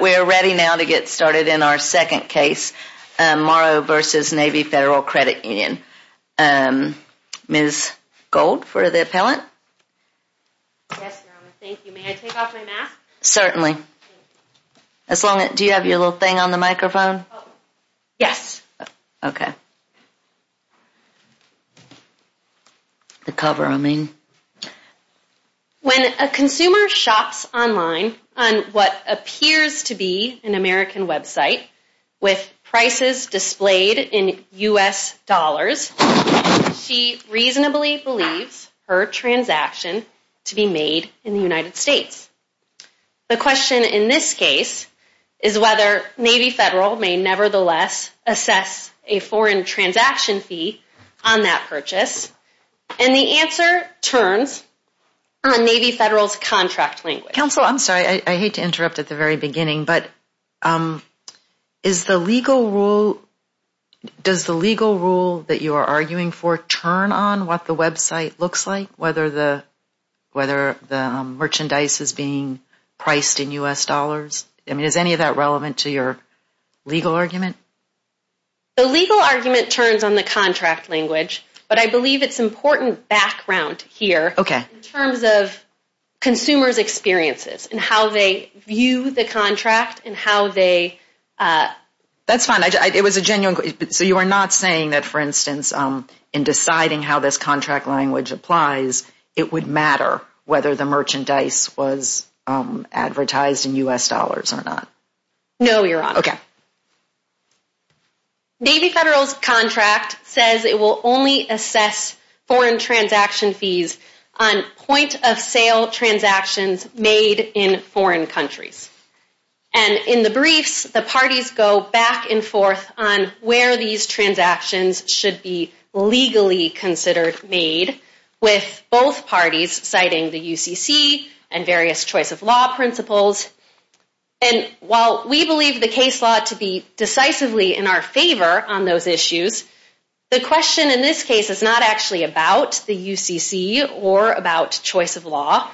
We are ready now to get started in our second case, Morrow v. Navy Federal Credit Union. Ms. Gold for the appellant. Yes, Your Honor. Thank you. May I take off my mask? Certainly. Do you have your little thing on the microphone? Yes. The cover, I mean. When a consumer shops online on what appears to be an American website with prices displayed in U.S. dollars, she reasonably believes her transaction to be made in the United States. The question in this case is whether Navy Federal may nevertheless assess a foreign transaction fee on that purchase, and the answer turns on Navy Federal's contract language. Counsel, I'm sorry. I hate to interrupt at the very beginning, but is the legal rule, does the legal rule that you are arguing for turn on what the website looks like, whether the merchandise is being priced in U.S. dollars? I mean, is any of that relevant to your legal argument? The legal argument turns on the contract language, but I believe it's important background here in terms of consumers' experiences and how they view the contract and how they... That's fine. It was a genuine question. So you are not saying that, for instance, in deciding how this contract language applies, it would matter whether the merchandise was advertised in U.S. dollars or not? No, Your Honor. Okay. Navy Federal's contract says it will only assess foreign transaction fees on point-of-sale transactions made in foreign countries. And in the briefs, the parties go back and forth on where these transactions should be legally considered made, with both parties citing the UCC and various choice-of-law principles. And while we believe the case law to be decisively in our favor on those issues, the question in this case is not actually about the UCC or about choice-of-law.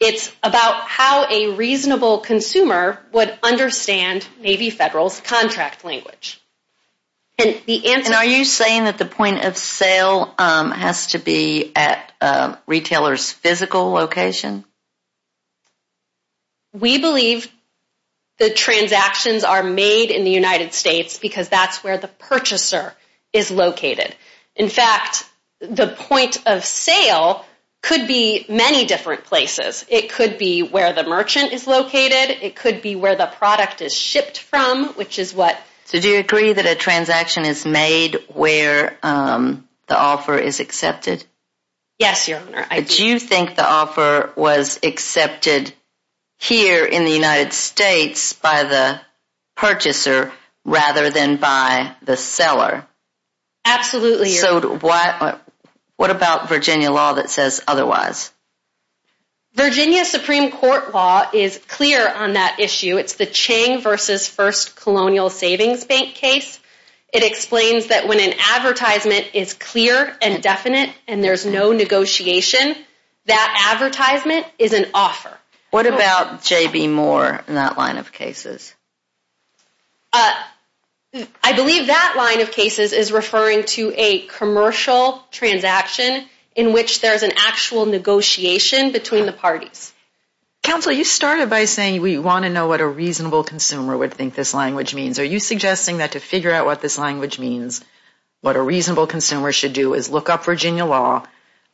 It's about how a reasonable consumer would understand Navy Federal's contract language. And the answer... And are you saying that the point-of-sale has to be at a retailer's physical location? We believe the transactions are made in the United States because that's where the purchaser is located. In fact, the point-of-sale could be many different places. It could be where the merchant is located. It could be where the product is shipped from, which is what... So do you agree that a transaction is made where the offer is accepted? Yes, Your Honor. I do. Do you think the offer was accepted here in the United States by the purchaser rather than by the seller? Absolutely, Your Honor. So what about Virginia law that says otherwise? Virginia Supreme Court law is clear on that issue. It's the Chang v. First Colonial Savings Bank case. It explains that when an advertisement is clear and definite and there's no negotiation, that advertisement is an offer. What about J.B. Moore and that line of cases? I believe that line of cases is referring to a commercial transaction in which there's an actual negotiation between the parties. Counsel, you started by saying we want to know what a reasonable consumer would think this language means. Are you suggesting that to figure out what this language means, what a reasonable consumer should do is look up Virginia law,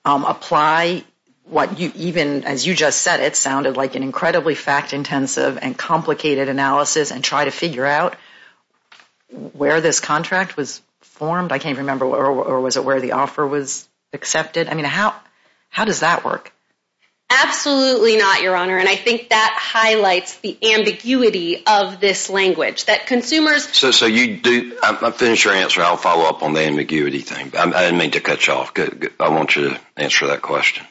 apply what you even, as you just said, it sounded like an incredibly fact-intensive and complicated analysis and try to figure out where this contract was formed? I can't remember. Or was it where the offer was accepted? I mean, how does that work? Absolutely not, Your Honor. And I think that highlights the ambiguity of this language, that consumers... So you do... I'll finish your answer. I'll follow up on the ambiguity thing. I didn't mean to cut you off. I want you to answer that question.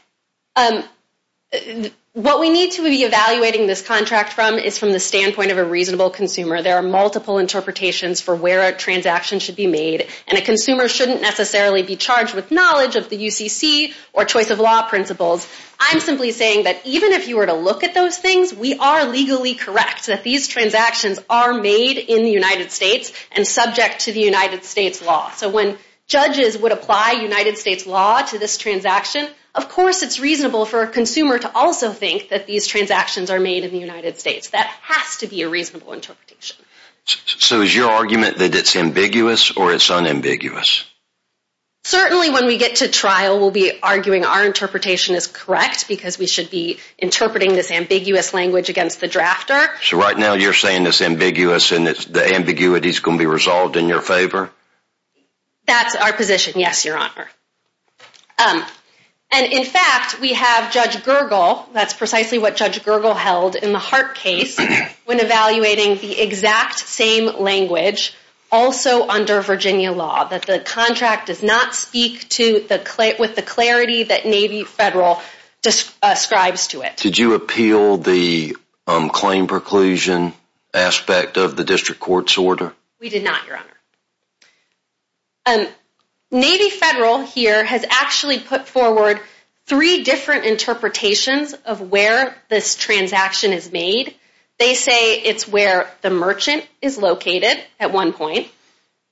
What we need to be evaluating this contract from is from the standpoint of a reasonable consumer. There are multiple interpretations for where a transaction should be made, and a consumer shouldn't necessarily be charged with knowledge of the UCC or choice of law principles. I'm simply saying that even if you were to look at those things, we are legally correct that these transactions are made in the United States and subject to the United States law. So when judges would apply United States law to this transaction, of course it's reasonable for a consumer to also think that these transactions are made in the United States. That has to be a reasonable interpretation. So is your argument that it's ambiguous or it's unambiguous? Certainly when we get to trial, we'll be arguing our interpretation is correct because we should be interpreting this ambiguous language against the drafter. So right now you're saying it's ambiguous and the ambiguity is going to be resolved in your favor? That's our position, yes, Your Honor. And in fact, we have Judge Gergel, that's precisely what Judge Gergel held in the Hart case, when evaluating the exact same language, also under Virginia law, that the contract does not speak with the clarity that Navy Federal describes to it. Did you appeal the claim preclusion aspect of the district court's order? We did not, Your Honor. Navy Federal here has actually put forward three different interpretations of where this transaction is made. They say it's where the merchant is located at one point.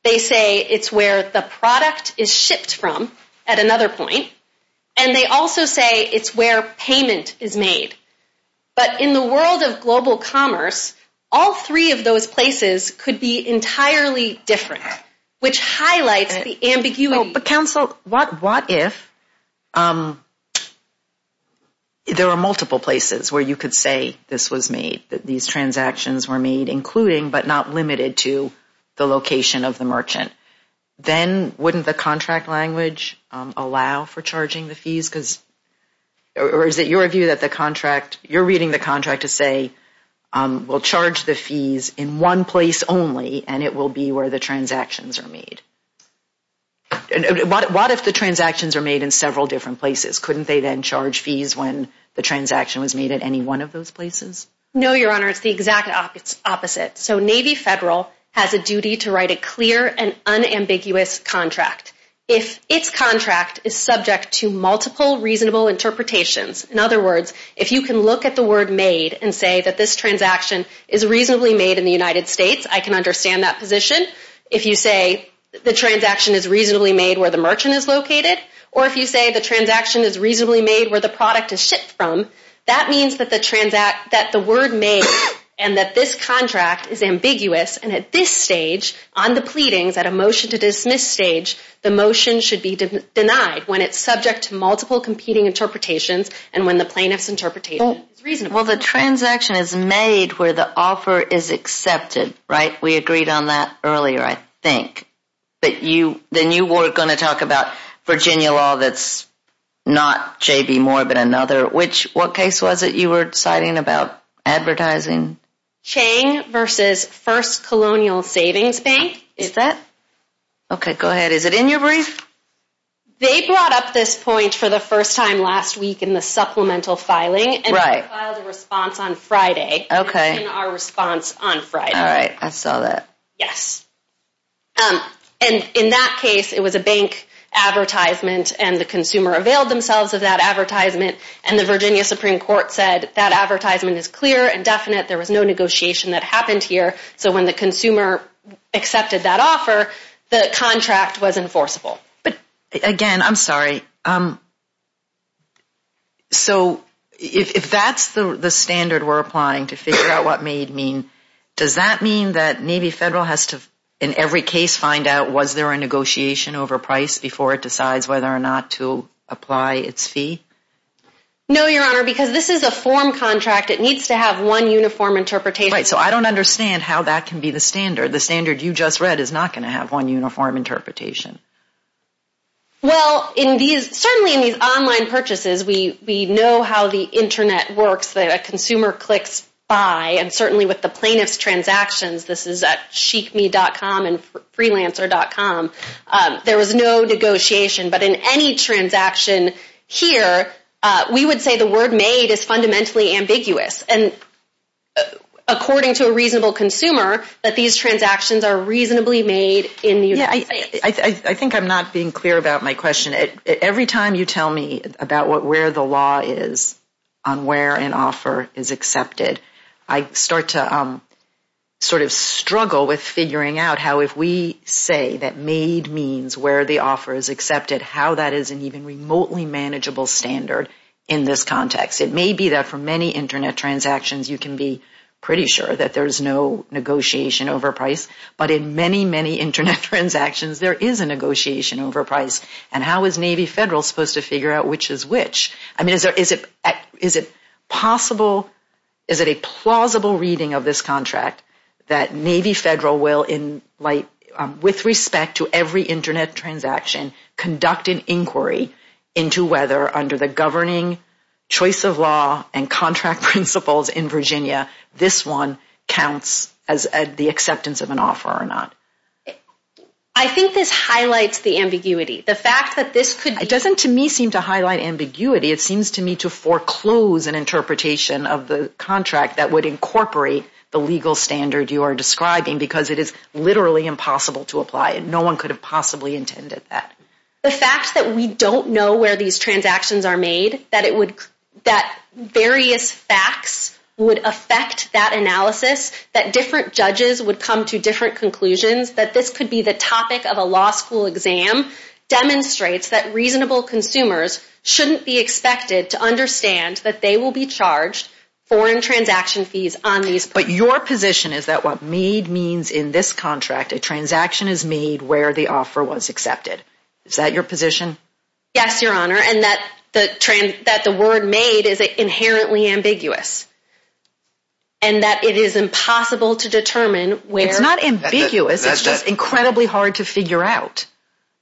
They say it's where the product is shipped from at another point. And they also say it's where payment is made. But in the world of global commerce, all three of those places could be entirely different, which highlights the ambiguity. But counsel, what if there are multiple places where you could say this was made, that these transactions were made, including but not limited to the location of the merchant? Then wouldn't the contract language allow for charging the fees? Or is it your view that the contract, you're reading the contract to say, will charge the fees in one place only, and it will be where the transactions are made? What if the transactions are made in several different places? Couldn't they then charge fees when the transaction was made at any one of those places? No, Your Honor. It's the exact opposite. So Navy Federal has a duty to write a clear and unambiguous contract. If its contract is subject to multiple reasonable interpretations, in other words, if you can look at the word made and say that this transaction is reasonably made in the United States, I can understand that position. If you say the transaction is reasonably made where the merchant is located, or if you say the transaction is reasonably made where the product is shipped from, that means that the word made and that this contract is ambiguous. And at this stage, on the pleadings, at a motion to dismiss stage, the motion should be denied when it's subject to multiple competing interpretations and when the plaintiff's interpretation is reasonable. Well, the transaction is made where the offer is accepted, right? We agreed on that earlier, I think. Then you were going to talk about Virginia law that's not J.B. Moore, but another. What case was it you were citing about advertising? Chang v. First Colonial Savings Bank. Is that? Okay, go ahead. Is it in your brief? They brought up this point for the first time last week in the supplemental filing, and we filed a response on Friday. Okay. It was in our response on Friday. All right, I saw that. Yes. And in that case, it was a bank advertisement, and the consumer availed themselves of that advertisement, and the Virginia Supreme Court said that advertisement is clear and definite. There was no negotiation that happened here, so when the consumer accepted that offer, the contract was enforceable. Again, I'm sorry. So if that's the standard we're applying to figure out what made mean, does that mean that maybe federal has to, in every case, find out was there a negotiation over price before it decides whether or not to apply its fee? No, Your Honor, because this is a form contract. It needs to have one uniform interpretation. Right, so I don't understand how that can be the standard. The standard you just read is not going to have one uniform interpretation. Well, certainly in these online purchases, we know how the Internet works, that a consumer clicks buy, and certainly with the plaintiff's transactions, this is at chicme.com and freelancer.com, there was no negotiation. But in any transaction here, we would say the word made is fundamentally ambiguous. And according to a reasonable consumer, that these transactions are reasonably made in the United States. I think I'm not being clear about my question. Every time you tell me about where the law is on where an offer is accepted, I start to sort of struggle with figuring out how, if we say that made means where the offer is accepted, how that is an even remotely manageable standard in this context. It may be that for many Internet transactions, you can be pretty sure that there's no negotiation over price. But in many, many Internet transactions, there is a negotiation over price. And how is Navy Federal supposed to figure out which is which? I mean, is it possible, is it a plausible reading of this contract that Navy Federal will, with respect to every Internet transaction, conduct an inquiry into whether under the governing choice of law and contract principles in Virginia, this one counts as the acceptance of an offer or not? I think this highlights the ambiguity. The fact that this could... It doesn't to me seem to highlight ambiguity. It seems to me to foreclose an interpretation of the contract that would incorporate the legal standard you are describing because it is literally impossible to apply. No one could have possibly intended that. The fact that we don't know where these transactions are made, that various facts would affect that analysis, that different judges would come to different conclusions, that this could be the topic of a law school exam, demonstrates that reasonable consumers shouldn't be expected to understand that they will be charged foreign transaction fees on these. But your position is that what made means in this contract, a transaction is made where the offer was accepted. Is that your position? Yes, Your Honor, and that the word made is inherently ambiguous and that it is impossible to determine where... It's not ambiguous. It's just incredibly hard to figure out.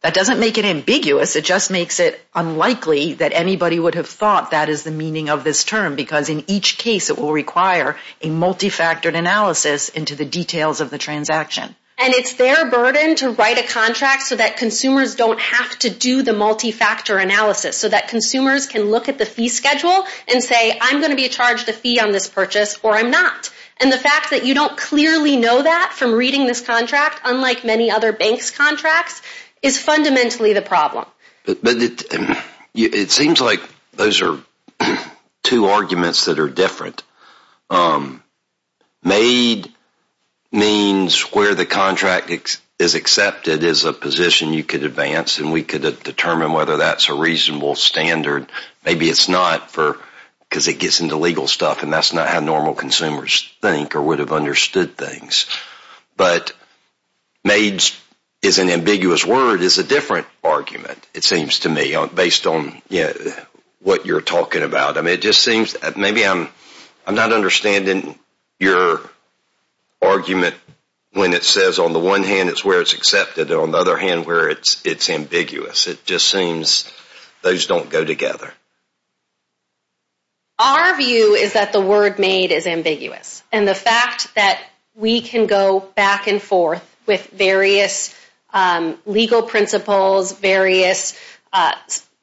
That doesn't make it ambiguous. It just makes it unlikely that anybody would have thought that is the meaning of this term because in each case it will require a multifactored analysis into the details of the transaction. It's their burden to write a contract so that consumers don't have to do the multifactor analysis, so that consumers can look at the fee schedule and say I'm going to be charged a fee on this purchase or I'm not. And the fact that you don't clearly know that from reading this contract, unlike many other banks' contracts, is fundamentally the problem. But it seems like those are two arguments that are different. Made means where the contract is accepted is a position you could advance and we could determine whether that's a reasonable standard. Maybe it's not because it gets into legal stuff and that's not how normal consumers think or would have understood things. But made is an ambiguous word is a different argument, it seems to me, based on what you're talking about. Maybe I'm not understanding your argument when it says on the one hand it's where it's accepted and on the other hand where it's ambiguous. It just seems those don't go together. Our view is that the word made is ambiguous and the fact that we can go back and forth with various legal principles, various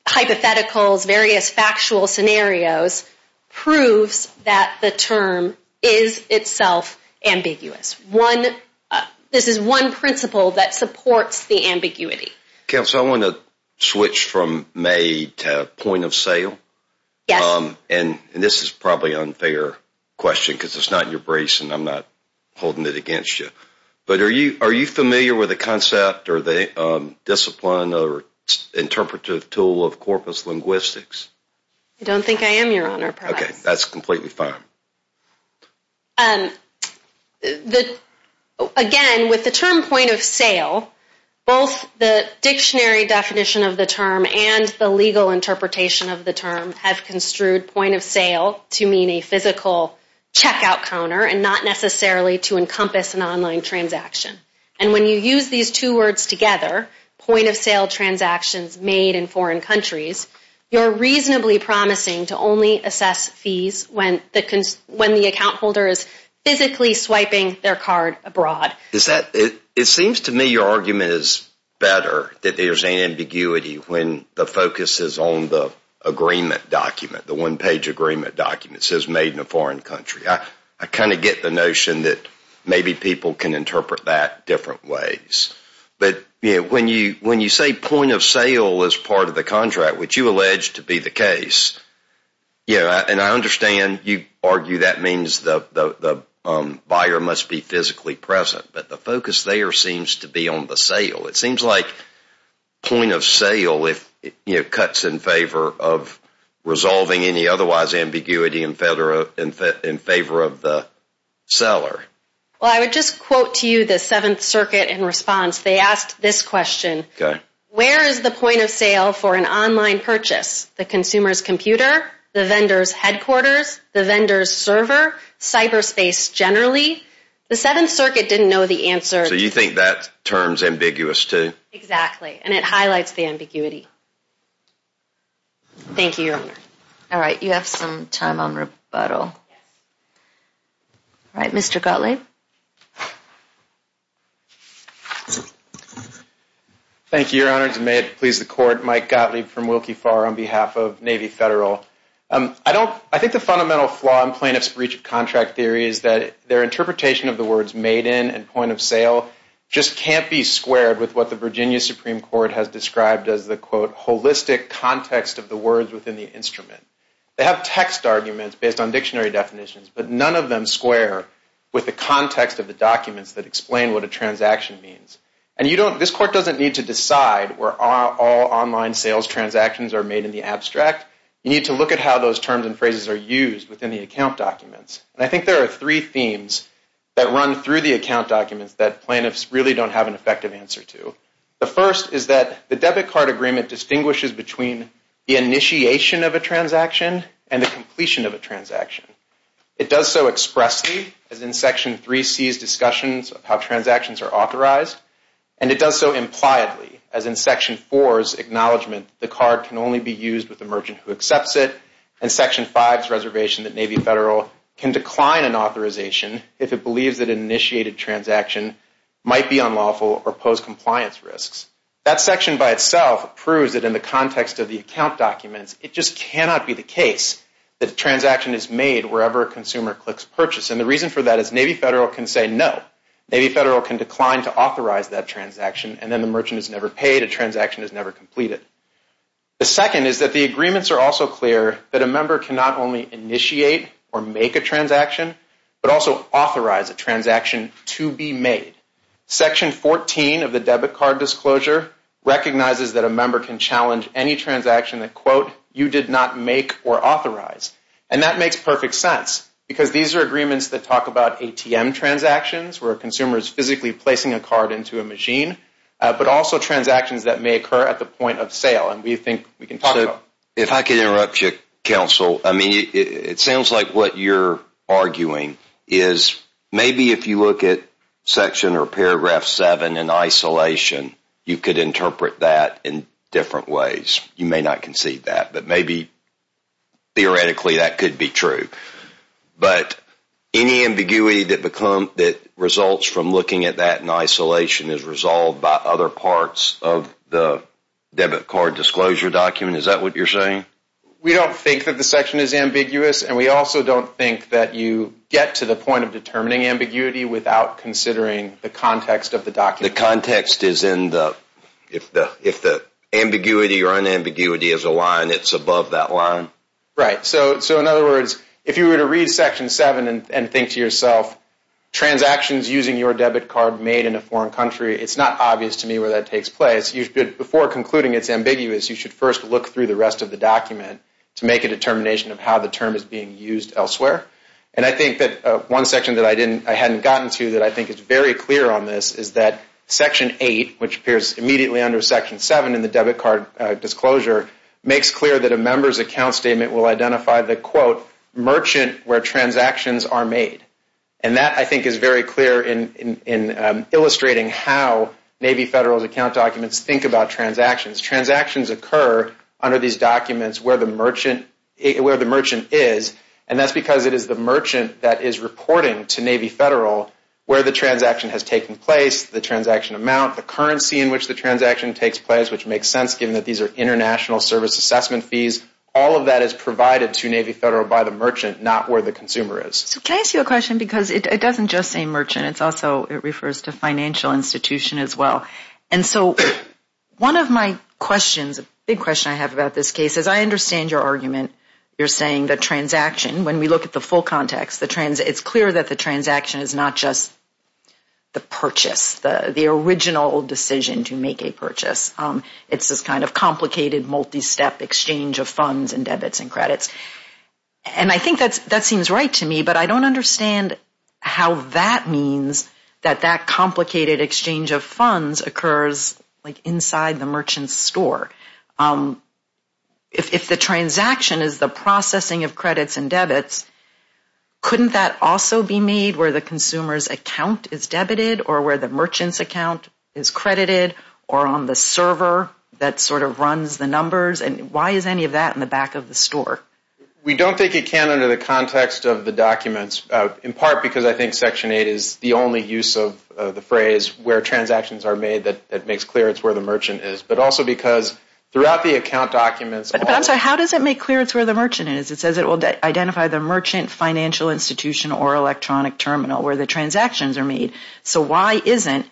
hypotheticals, various factual scenarios, proves that the term is itself ambiguous. This is one principle that supports the ambiguity. Counsel, I want to switch from made to point of sale. Yes. And this is probably an unfair question because it's not in your brace and I'm not holding it against you. But are you familiar with the concept or the discipline or interpretive tool of corpus linguistics? I don't think I am, Your Honor. Okay, that's completely fine. Again, with the term point of sale, both the dictionary definition of the term and the legal interpretation of the term have construed point of sale to mean a physical checkout counter and not necessarily to encompass an online transaction. And when you use these two words together, point of sale transactions made in foreign countries, you're reasonably promising to only assess fees when the account holder is physically swiping their card abroad. It seems to me your argument is better that there's ambiguity when the focus is on the agreement document, the one-page agreement document that says made in a foreign country. I kind of get the notion that maybe people can interpret that different ways. But when you say point of sale is part of the contract, which you allege to be the case, and I understand you argue that means the buyer must be physically present, but the focus there seems to be on the sale. It seems like point of sale cuts in favor of resolving any otherwise ambiguity in favor of the seller. Well, I would just quote to you the Seventh Circuit in response. They asked this question. Where is the point of sale for an online purchase? The consumer's computer, the vendor's headquarters, the vendor's server, cyberspace generally? The Seventh Circuit didn't know the answer. So you think that term's ambiguous, too? Exactly. And it highlights the ambiguity. Thank you, Your Honor. All right. You have some time on rebuttal. All right. Mr. Gottlieb? Thank you, Your Honor. May it please the Court, Mike Gottlieb from Wilkie Farr on behalf of Navy Federal. I think the fundamental flaw in plaintiff's breach of contract theory is that their interpretation of the words made in and point of sale just can't be squared with what the Virginia Supreme Court has described as the, quote, holistic context of the words within the instrument. They have text arguments based on dictionary definitions, but none of them square with the context of the documents that explain what a transaction means. And this Court doesn't need to decide where all online sales transactions are made in the abstract. You need to look at how those terms and phrases are used within the account documents. And I think there are three themes that run through the account documents that plaintiffs really don't have an effective answer to. The first is that the debit card agreement distinguishes between the initiation of a transaction and the completion of a transaction. It does so expressly, as in Section 3C's discussions of how transactions are authorized, and it does so impliedly, as in Section 4's acknowledgment that the card can only be used with the merchant who accepts it, and Section 5's reservation that Navy Federal can decline an authorization if it believes that an initiated transaction might be unlawful or pose compliance risks. That section by itself proves that in the context of the account documents, it just cannot be the case that a transaction is made wherever a consumer clicks purchase. And the reason for that is Navy Federal can say no. Navy Federal can decline to authorize that transaction, and then the merchant is never paid, a transaction is never completed. The second is that the agreements are also clear that a member cannot only initiate or make a transaction, but also authorize a transaction to be made. Section 14 of the debit card disclosure recognizes that a member can challenge any transaction that, quote, you did not make or authorize. And that makes perfect sense, because these are agreements that talk about ATM transactions, where a consumer is physically placing a card into a machine, but also transactions that may occur at the point of sale, and we think we can talk about that. If I could interrupt you, Counsel. I mean, it sounds like what you're arguing is maybe if you look at Section or Paragraph 7 in isolation, you could interpret that in different ways. You may not concede that, but maybe theoretically that could be true. But any ambiguity that results from looking at that in isolation is resolved by other parts of the debit card disclosure document. Is that what you're saying? We don't think that the section is ambiguous, and we also don't think that you get to the point of determining ambiguity without considering the context of the document. You mean the context is in the, if the ambiguity or unambiguity is a line, it's above that line? Right. So in other words, if you were to read Section 7 and think to yourself, transactions using your debit card made in a foreign country, it's not obvious to me where that takes place. Before concluding it's ambiguous, you should first look through the rest of the document to make a determination of how the term is being used elsewhere. And I think that one section that I hadn't gotten to that I think is very clear on this is that Section 8, which appears immediately under Section 7 in the debit card disclosure, makes clear that a member's account statement will identify the, quote, merchant where transactions are made. And that, I think, is very clear in illustrating how Navy Federal's account documents think about transactions. Transactions occur under these documents where the merchant is, and that's because it is the merchant that is reporting to Navy Federal where the transaction has taken place and the transaction amount, the currency in which the transaction takes place, which makes sense given that these are international service assessment fees. All of that is provided to Navy Federal by the merchant, not where the consumer is. So can I ask you a question? Because it doesn't just say merchant, it also refers to financial institution as well. And so one of my questions, a big question I have about this case, is I understand your argument. You're saying that transaction, when we look at the full context, it's clear that the transaction is the original decision to make a purchase. It's this kind of complicated, multi-step exchange of funds and debits and credits. And I think that seems right to me, but I don't understand how that means that that complicated exchange of funds occurs inside the merchant's store. If the transaction is the processing of credits and debits, couldn't that also be made where the consumer's account is debited or where the merchant's account is credited or on the server that sort of runs the numbers? And why is any of that in the back of the store? We don't think it can under the context of the documents, in part because I think Section 8 is the only use of the phrase where transactions are made that makes clear it's where the merchant is. But also because throughout the account documents... But I'm sorry, how does it make clear it's where the merchant is? It says it will identify the merchant, financial institution, or electronic terminal and why isn't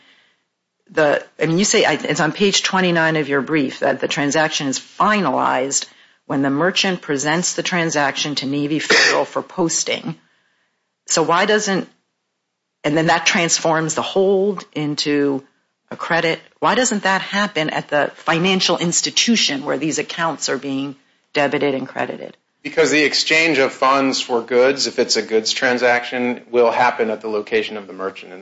the... And you say it's on page 29 of your brief that the transaction is finalized when the merchant presents the transaction to Navy Federal for posting. So why doesn't... And then that transforms the hold into a credit. Why doesn't that happen at the financial institution where these accounts are being debited and credited? Because the exchange of funds for goods, if it's a goods transaction, will happen at the location of the merchant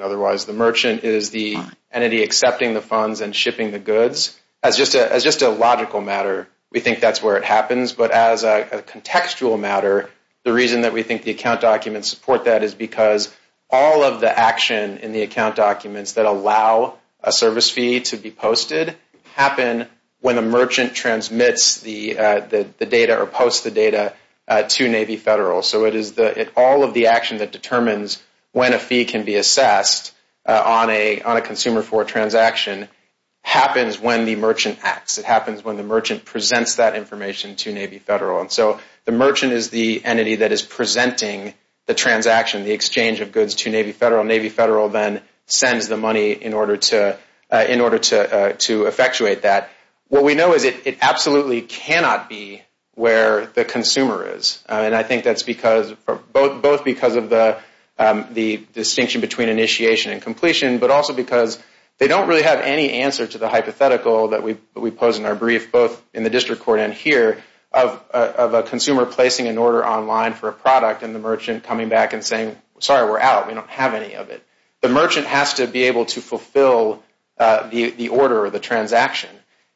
is the entity accepting the funds and shipping the goods. As just a logical matter, we think that's where it happens. But as a contextual matter, the reason that we think the account documents support that is because all of the action in the account documents that allow a service fee to be posted happen when a merchant transmits the data or posts the data to Navy Federal. So it is all of the action that determines when a fee can be assessed on a consumer for a transaction happens when the merchant acts. It happens when the merchant presents that information to Navy Federal. And so the merchant is the entity that is presenting the transaction, the exchange of goods to Navy Federal. Navy Federal then sends the money in order to effectuate that. What we know is it absolutely cannot be where the consumer is. And I think that's both because of the distinction between initiation and completion, but also because they don't really have any answer to the hypothetical that we pose in our brief both in the district court and here of a consumer placing an order online for a product and the merchant coming back and saying, sorry, we're out. We don't have any of it. The merchant has to be able to fulfill the order or the transaction.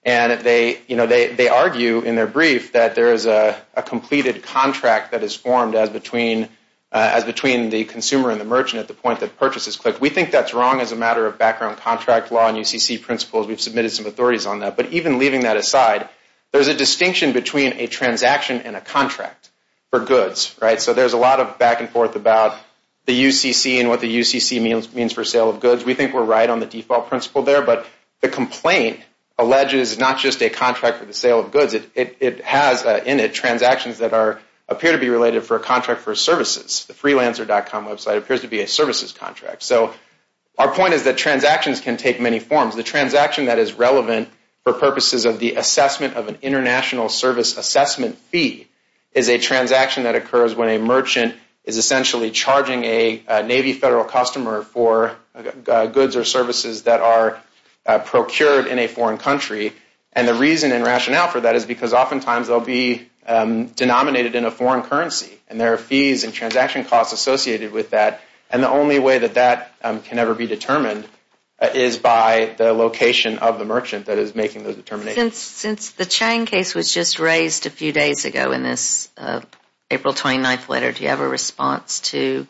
And they argue in their brief that there is a completed contract that is formed as between the consumer and the merchant and I think that's wrong as a matter of background contract law and UCC principles. We've submitted some authorities on that. But even leaving that aside, there's a distinction between a transaction and a contract for goods. So there's a lot of back and forth about the UCC and what the UCC means for sale of goods. We think we're right on the default principle there, but the complaint alleges not just a contract for the sale of goods. It has in it transactions that can take many forms. Our point is that transactions can take many forms. The transaction that is relevant for purposes of the assessment of an international service assessment fee is a transaction that occurs when a merchant is essentially charging a Navy Federal customer for goods or services that are procured in a foreign country. And the reason and rationale for that is because oftentimes they'll be denominated or be determined is by the location of the merchant that is making the determination. Since the Chang case was just raised a few days ago in this April 29th letter, do you have a response to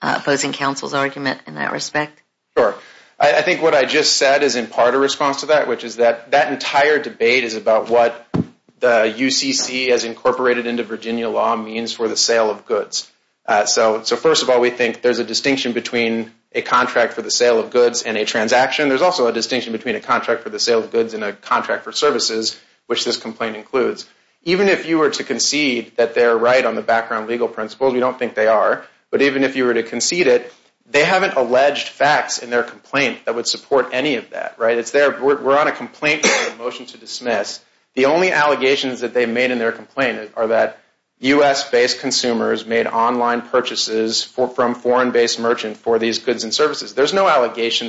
opposing counsel's argument in that respect? Sure. I think what I just said is in part a response to that, which is that that entire debate is about what the UCC as incorporated into Virginia law means for the sale of goods. So first of all, we think that there's a distinction between a contract for the sale of goods and a transaction. There's also a distinction between a contract for the sale of goods and a contract for services, which this complaint includes. Even if you were to concede that they're right on the background legal principles, we don't think they are, but even if you were to concede it, they haven't alleged facts in their complaint that would support any of that, right? We're on a complaint and there's no allegation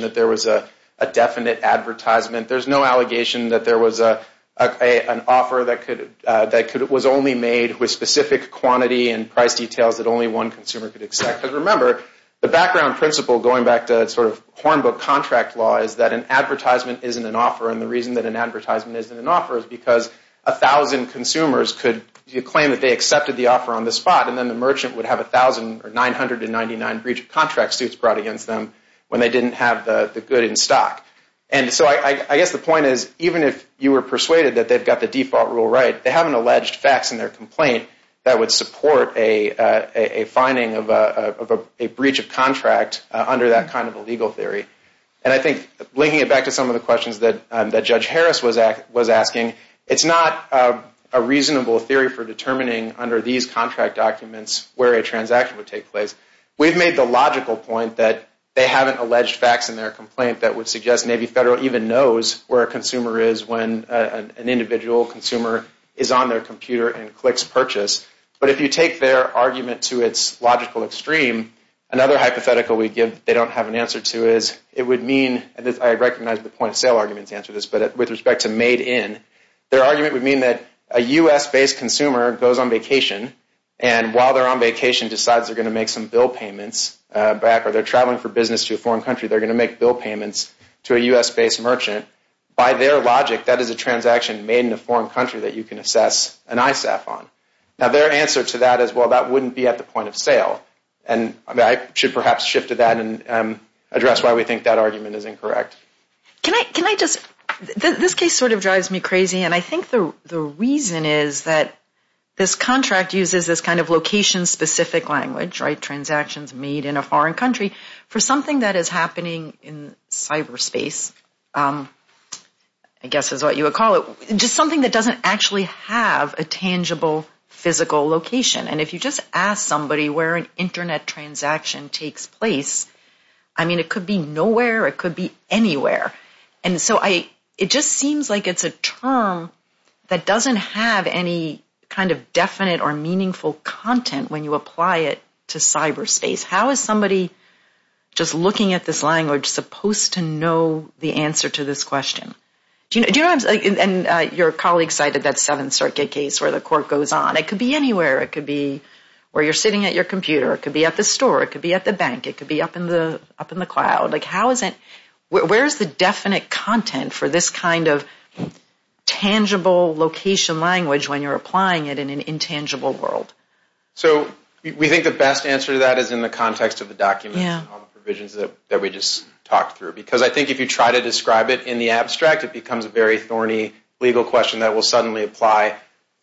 that there was a definite advertisement. There's no allegation that there was an offer that was only made with specific quantity and price details that only one consumer could accept. Because remember, the background principle, going back to Hornbook contract law, is that an advertisement isn't an offer, and the reason that an advertisement isn't an offer is because 1,000 consumers could claim that they accepted the offer on the spot, and then the merchant would have 1,000 or 999 breach of contract suits brought against them when they didn't have the good in stock. And so I guess the point is, even if you were persuaded that they've got the default rule right, they haven't alleged facts in their complaint that would support a finding of a breach of contract under that kind of a legal theory. And I think, linking it back to some of the questions that Judge Harris was asking, it's not a reasonable theory for determining under these contract documents where a transaction would take place. We've made the logical point that they haven't alleged facts in their complaint that would suggest maybe Federal even knows where a consumer is when an individual consumer is on their computer and clicks purchase. But if you take their argument to its logical extreme, another hypothetical we give that they don't have an answer to is it would mean, and I recognize the point of sale argument but with respect to made in, their argument would mean that a U.S.-based consumer goes on vacation, and while they're on vacation, decides they're going to make some bill payments back, or they're traveling for business to a foreign country, they're going to make bill payments to a U.S.-based merchant. By their logic, that is a transaction made in a foreign country that you can assess an ISAF on. Now their answer to that is, well, that wouldn't be at the point of sale. And I should perhaps shift to that and address why we think that argument is incorrect. Can I just, this case sort of drives me crazy, and I think the reason is that this contract uses this kind of location-specific language, right, transactions made in a foreign country, for something that is happening in cyberspace, I guess is what you would call it, just something that doesn't actually have a tangible, physical location. And if you just ask somebody where an Internet transaction takes place, I mean, it could be nowhere, it could be anywhere. And so I, it just seems like it's a term that doesn't have any kind of definite or meaningful content when you apply it to cyberspace. How is somebody just looking at this language supposed to know the answer to this question? Do you know, and your colleague cited that Seventh Circuit case where the court goes on. It could be anywhere. It could be where you're sitting at your computer. It could be at the store. It could be at the bank. It could be up in the, up in the cloud. Like, how is it, where is the definite content for this kind of tangible location language when you're applying it in an intangible world? So we think the best answer to that is in the context of the documents and all the provisions that we just talked through. Because I think if you try to describe it in the abstract, it becomes a very thorny legal question that will suddenly apply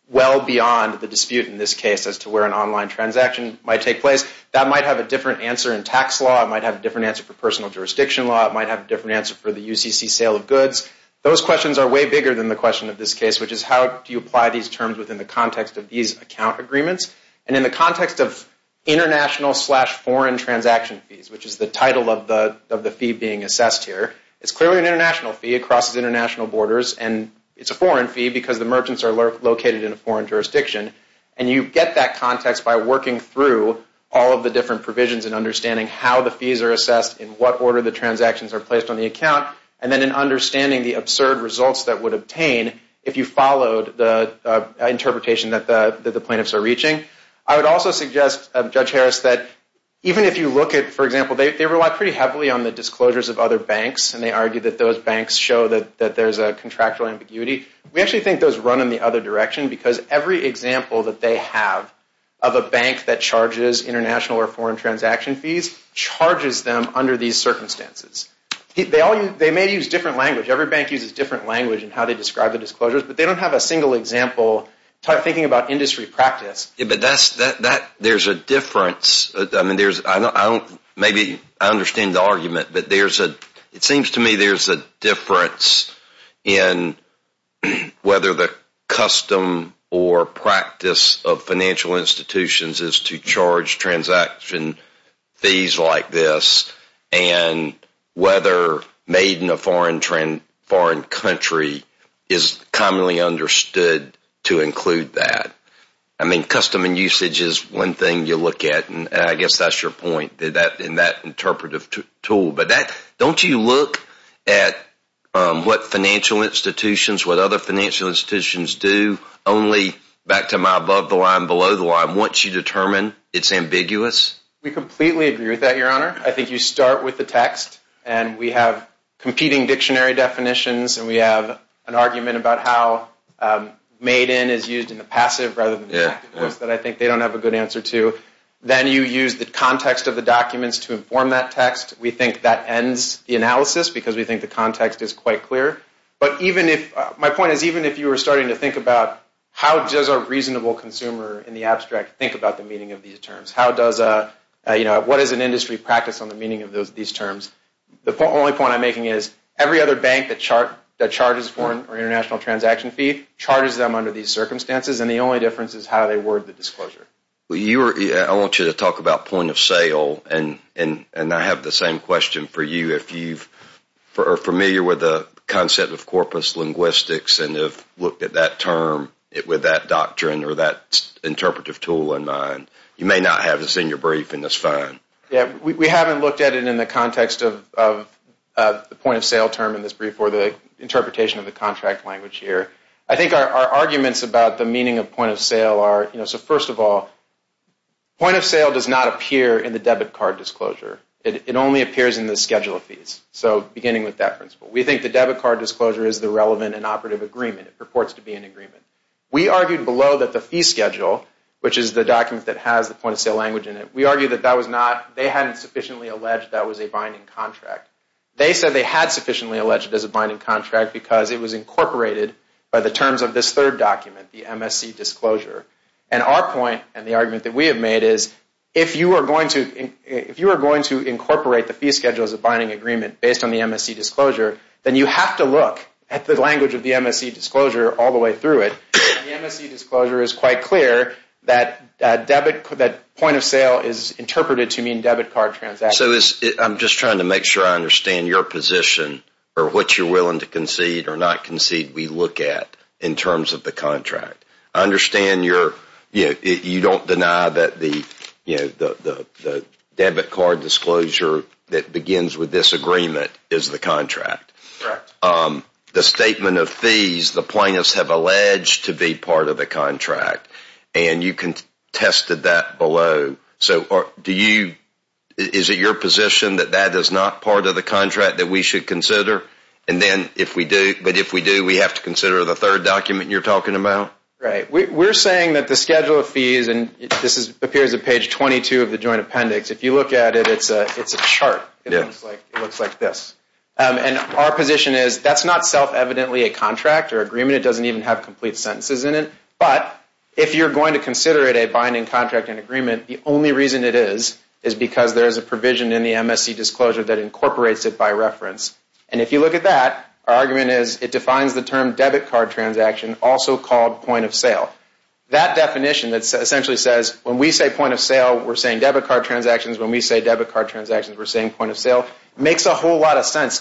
well beyond the dispute in this case as to where an online transaction might take place. That might have a different answer in tax law. It might have a different answer for personal jurisdiction law. It might have a different answer for the UCC sale of goods. Those questions are way bigger than the question of this case, which is, how do you apply these terms within the context of these account agreements? And in the context of international slash foreign transaction fees, which is the title of the fee being assessed here, it's clearly an international fee. It crosses international borders and it's a foreign fee because the merchants are located in a foreign jurisdiction. And you get that context by working through all of the different provisions and understanding how the fees are assessed, in what order the transactions are placed on the account, and then in understanding the absurd results that would obtain if you followed the interpretation that the plaintiffs are reaching. I would also suggest, Judge Harris, that even if you look at, for example, they rely pretty heavily on the disclosures of other banks and they argue that those banks show that there's a contractual ambiguity. We actually think those run in the other direction because every example that they have of a bank that charges international or foreign transaction fees charges them under these circumstances. They may use different language. Every bank uses different language in how they describe the disclosures, but they don't have a single example thinking about industry practice. But there's a difference. Maybe I understand the argument, but it seems to me there's a difference is to charge transaction fees like this and whether made in a foreign jurisdiction is to charge transaction fees like this and whether made in a foreign jurisdiction is to charge and whether made in a foreign country is commonly understood to include that. I mean custom and usage is one thing you look at and I guess that's your point in that interpretive tool, but don't you look at what financial institutions, what other financial institutions do only back to my above the line below the line once you determine it's ambiguous? We completely agree with that Your Honor. I think you start with the text and we have competing dictionary definitions and we have an argument about how made in is used in the passive rather than the active course that I think they don't have a good answer to. Then you use the context of the documents to inform that text. We think that ends the analysis because we think the context is quite clear. My point is even if you were starting to think about how does a reasonable consumer in the abstract think about the meaning of these terms? What is an industry practice on the meaning of these terms? The only point I'm making is every other bank that charges foreign or international transaction fee charges them under these circumstances and the only difference is how they word the disclosure. I want you to talk about point of sale and I have the same question for you. If you are familiar with the concept of corpus linguistics and you have looked at that term with that doctrine or that interpretive tool in mind, you may not have this in your brief and that is fine. We haven't looked at it in the context of the point of sale term in this brief or the interpretation of the contract language here. I think our arguments about the meaning of point of sale are, first of all, point of sale does not appear in the debit card disclosure. It only appears in the schedule of fees, beginning with that principle. We think the is an operative agreement. It purports to be an agreement. We argued below that the fee schedule, which is the document that has the point of sale language in it, we argued that they hadn't sufficiently alleged that was a binding contract. They said they had sufficiently alleged it as a binding contract because it was incorporated by the terms of this third document, the MSC disclosure. Our point and the argument that we have made is if you are going to incorporate the fee schedule as a part of the MSC disclosure all the way through it, the MSC disclosure is quite clear that point of sale is interpreted to mean debit card transactions. I'm just trying to make sure I understand your position or what you're willing to concede or not concede we look at in contract. I understand you don't deny that the debit card disclosure that begins with this agreement is the contract. Correct. The statement of point of sale does not If you look at the fees, the plaintiffs have alleged to be part of the contract. You contested that below. Is it your position that that is not part of the contract that we should consider? If we do, we have to consider the third document you are talking about? We are saying that the schedule of fees and this appears on page 22 of the joint appendix, if you look at it, it is a chart. It looks like this. Our position is that is not self-evidently a binding contract or agreement. It doesn't even have complete sentences in it. But if you are going to consider it a binding contract and agreement, the only reason it is is because there is a provision in the MSC disclosure that incorporates it by reference. If you look at that, our argument is it defines the term debit card transaction, also called point of sale. That definition essentially says when we say point of sale, we are saying debit card transactions. When we say point of sale, we point of sale transactions.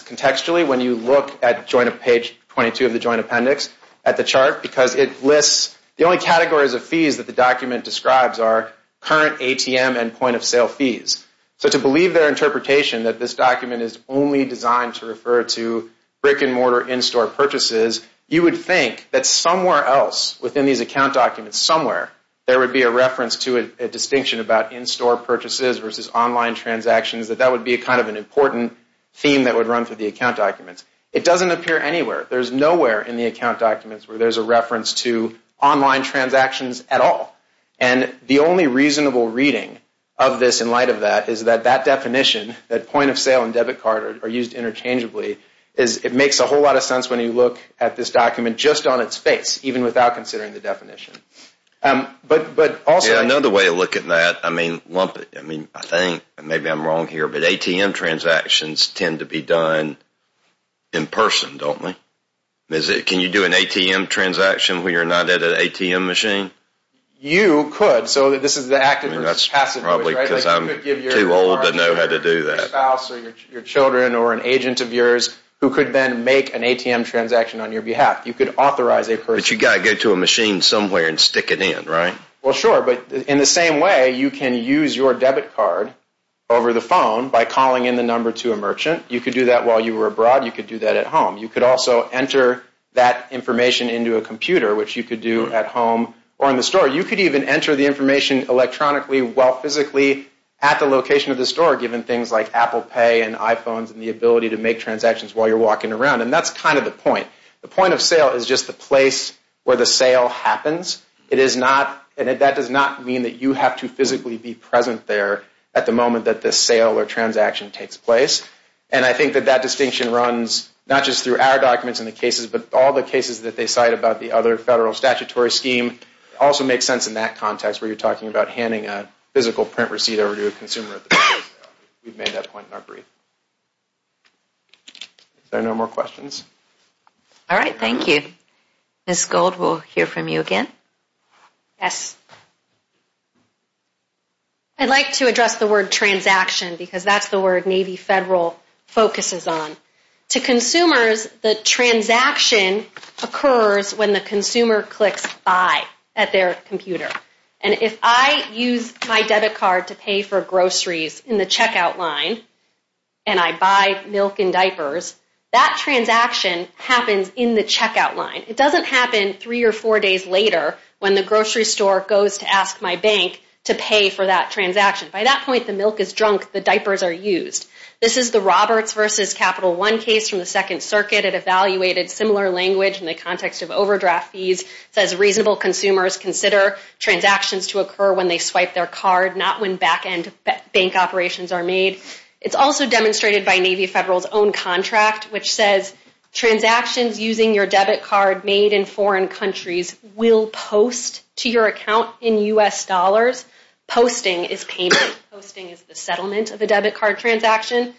The only categories of fees that the document describes are current ATM and point of sale fees. To believe their interpretation that this document is only designed to refer to brick-and-mortar in- store purchases, you would think that somewhere else within these account documents, somewhere, there would be a reference to a distinction about in- store purchases versus online transactions, that that would be kind of an important theme that would run through the account documents. It doesn't appear anywhere. There's nowhere in the account documents where there's a reference to online transactions at all. And the only reasonable reading of this in light of that is that that definition, that point of sale and debit card are used interchangeably, it makes a whole lot of sense when you look at this document just on its face, even without considering the definition. But also... Yeah, another way to look at that, I mean, lump it. I mean, I think, maybe I'm wrong here, but ATM transactions tend to be done in person, don't they? Can you do an ATM transaction where you're not at an ATM machine? You could. So this is the active versus passive way, right? That's probably because I'm too old to know how to do that. Your spouse or your children or an agent of yours who could then make an ATM transaction on your behalf. You could authorize a person. But you've got to go to a machine somewhere and stick it in, right? Well, sure, but in the same way, you can use your debit card over the phone by calling in the number to a If you were abroad, you could do that at home. You could also enter that information into a computer, which you could do at home or in the store. You could even enter the information electronically while physically at the location of the store given things like Apple Pay and iPhones and the ability to make transactions while you're walking around. And that's kind of the point. The point of sale is just the place where the sale happens. It is not, and that does not mean that you have to physically be present there at the moment that the sale or distinction runs, not just through our documents and the cases, but all the cases that they cite about the other federal statutory scheme. It also makes sense in that context where you're talking about handing a physical print receipt over to a consumer. We've made that point in our brief. Are there no more questions? All right. from you again. Yes. I'd like to address the word transaction because that's the word Navy Federal focuses on. It's the word transaction. It's the word transaction. To consumers, the transaction occurs when the consumer clicks buy at their computer. And if I use my debit card to pay for groceries in the checkout line and I buy milk and diapers, that transaction happens in the checkout line. It doesn't happen three or four days later when the grocery store goes milk is drunk. The diapers are used. This is the Roberts versus Capital One transaction. This is the Roberts versus Capital One transaction. This is the Roberts versus Capital One transaction. Roberts versus Capital One transaction. It's also demonstrated by Navy Federal's own contract which says Posting is payment. Posting is the settlement of a debit card transaction.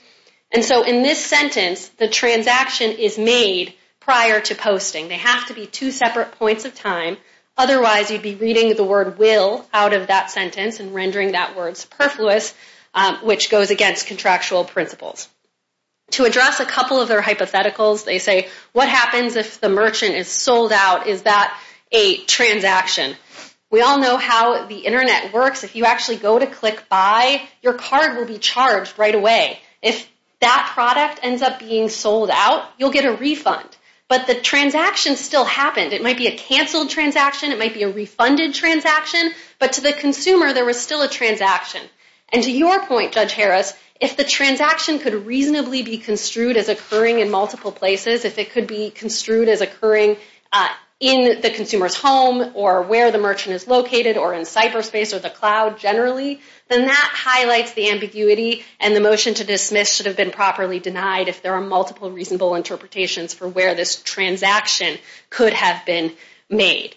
And so in this sentence, the transaction is made prior to posting. They have to be two separate points of time. Otherwise, you'd be reading the word will out of that sentence and rendering that word superfluous which goes against contractual principles. To address a couple of their hypotheticals, they say, what happens if the merchant is sold out? Is that a transaction? We all know how the internet works. If you actually go to click buy, your card will be charged right away. If that product ends up being sold out, you'll get a refund. But the transaction still happened. It might be a canceled transaction. It might be a refunded transaction. But to the consumer, there was still a transaction. And to your point, Judge Harris, if the transaction could reasonably be construed as occurring in multiple places, if it could be construed as occurring in the consumer's home or where the merchant is located or in cyberspace or the cloud generally, then that highlights the ambiguity and the motion to dismiss should have been properly denied if there are multiple reasonable interpretations for where this transaction could have been made.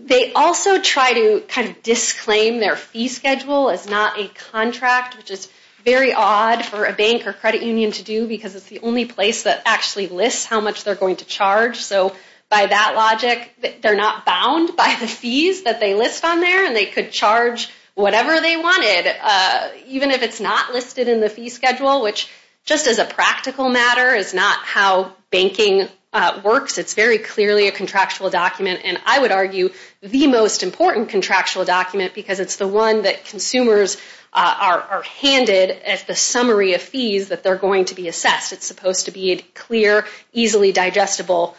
They also try to kind of disclaim their fee schedule as not a contract, which is very odd for a bank or credit union to do because it's the only place that actually lists how much they're going to charge. So by that logic, they're not bound by the fees that they list on there and they could charge the merchant whatever they wanted, even if it's not listed in the fee schedule, which just as a practical matter is not how banking works. It's very clearly a contractual document and I would argue the most important contractual document because it's the one that consumers are handed as the that they're going to be assessed. It's supposed to be a clear, easily digestible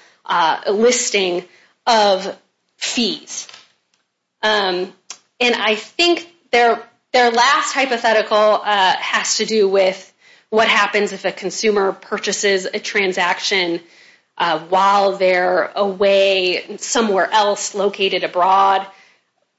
listing of fees. And I think they're going to be I think their last hypothetical has to do with what happens if a consumer purchases a transaction while they're away somewhere else located abroad.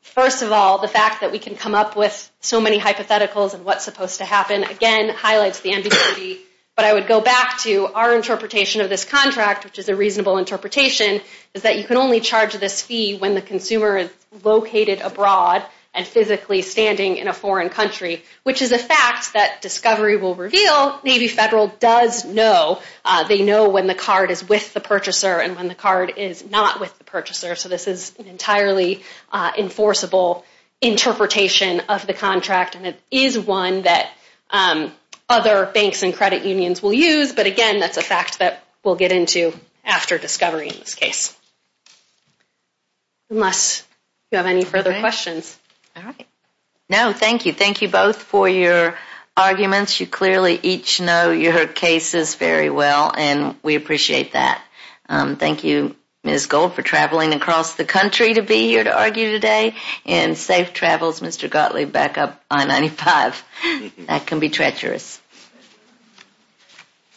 First of all, the fact that we can come up with so many hypotheticals and what's supposed to happen again highlights the ambiguity. But I would go back to our interpretation of this contract, which is a reasonable interpretation, is that you can only charge this fee when the consumer is located abroad and physically standing in a foreign country, which is a fact that Discovery will reveal. Navy Federal does know. They know when the card is with the purchaser and when the card is not with the purchaser. So this is an entirely enforceable interpretation of the contract and it is one that other banks and credit banks can't enforce. Unless you have any further questions. No, thank you. Thank you both for your arguments. You clearly each know your cases very well and we appreciate that. Thank you, Ms. Gold, for traveling across the country to be here to argue today and safe travels, Mr. Gottlieb, and I hope to see you back up on 95. That can be treacherous.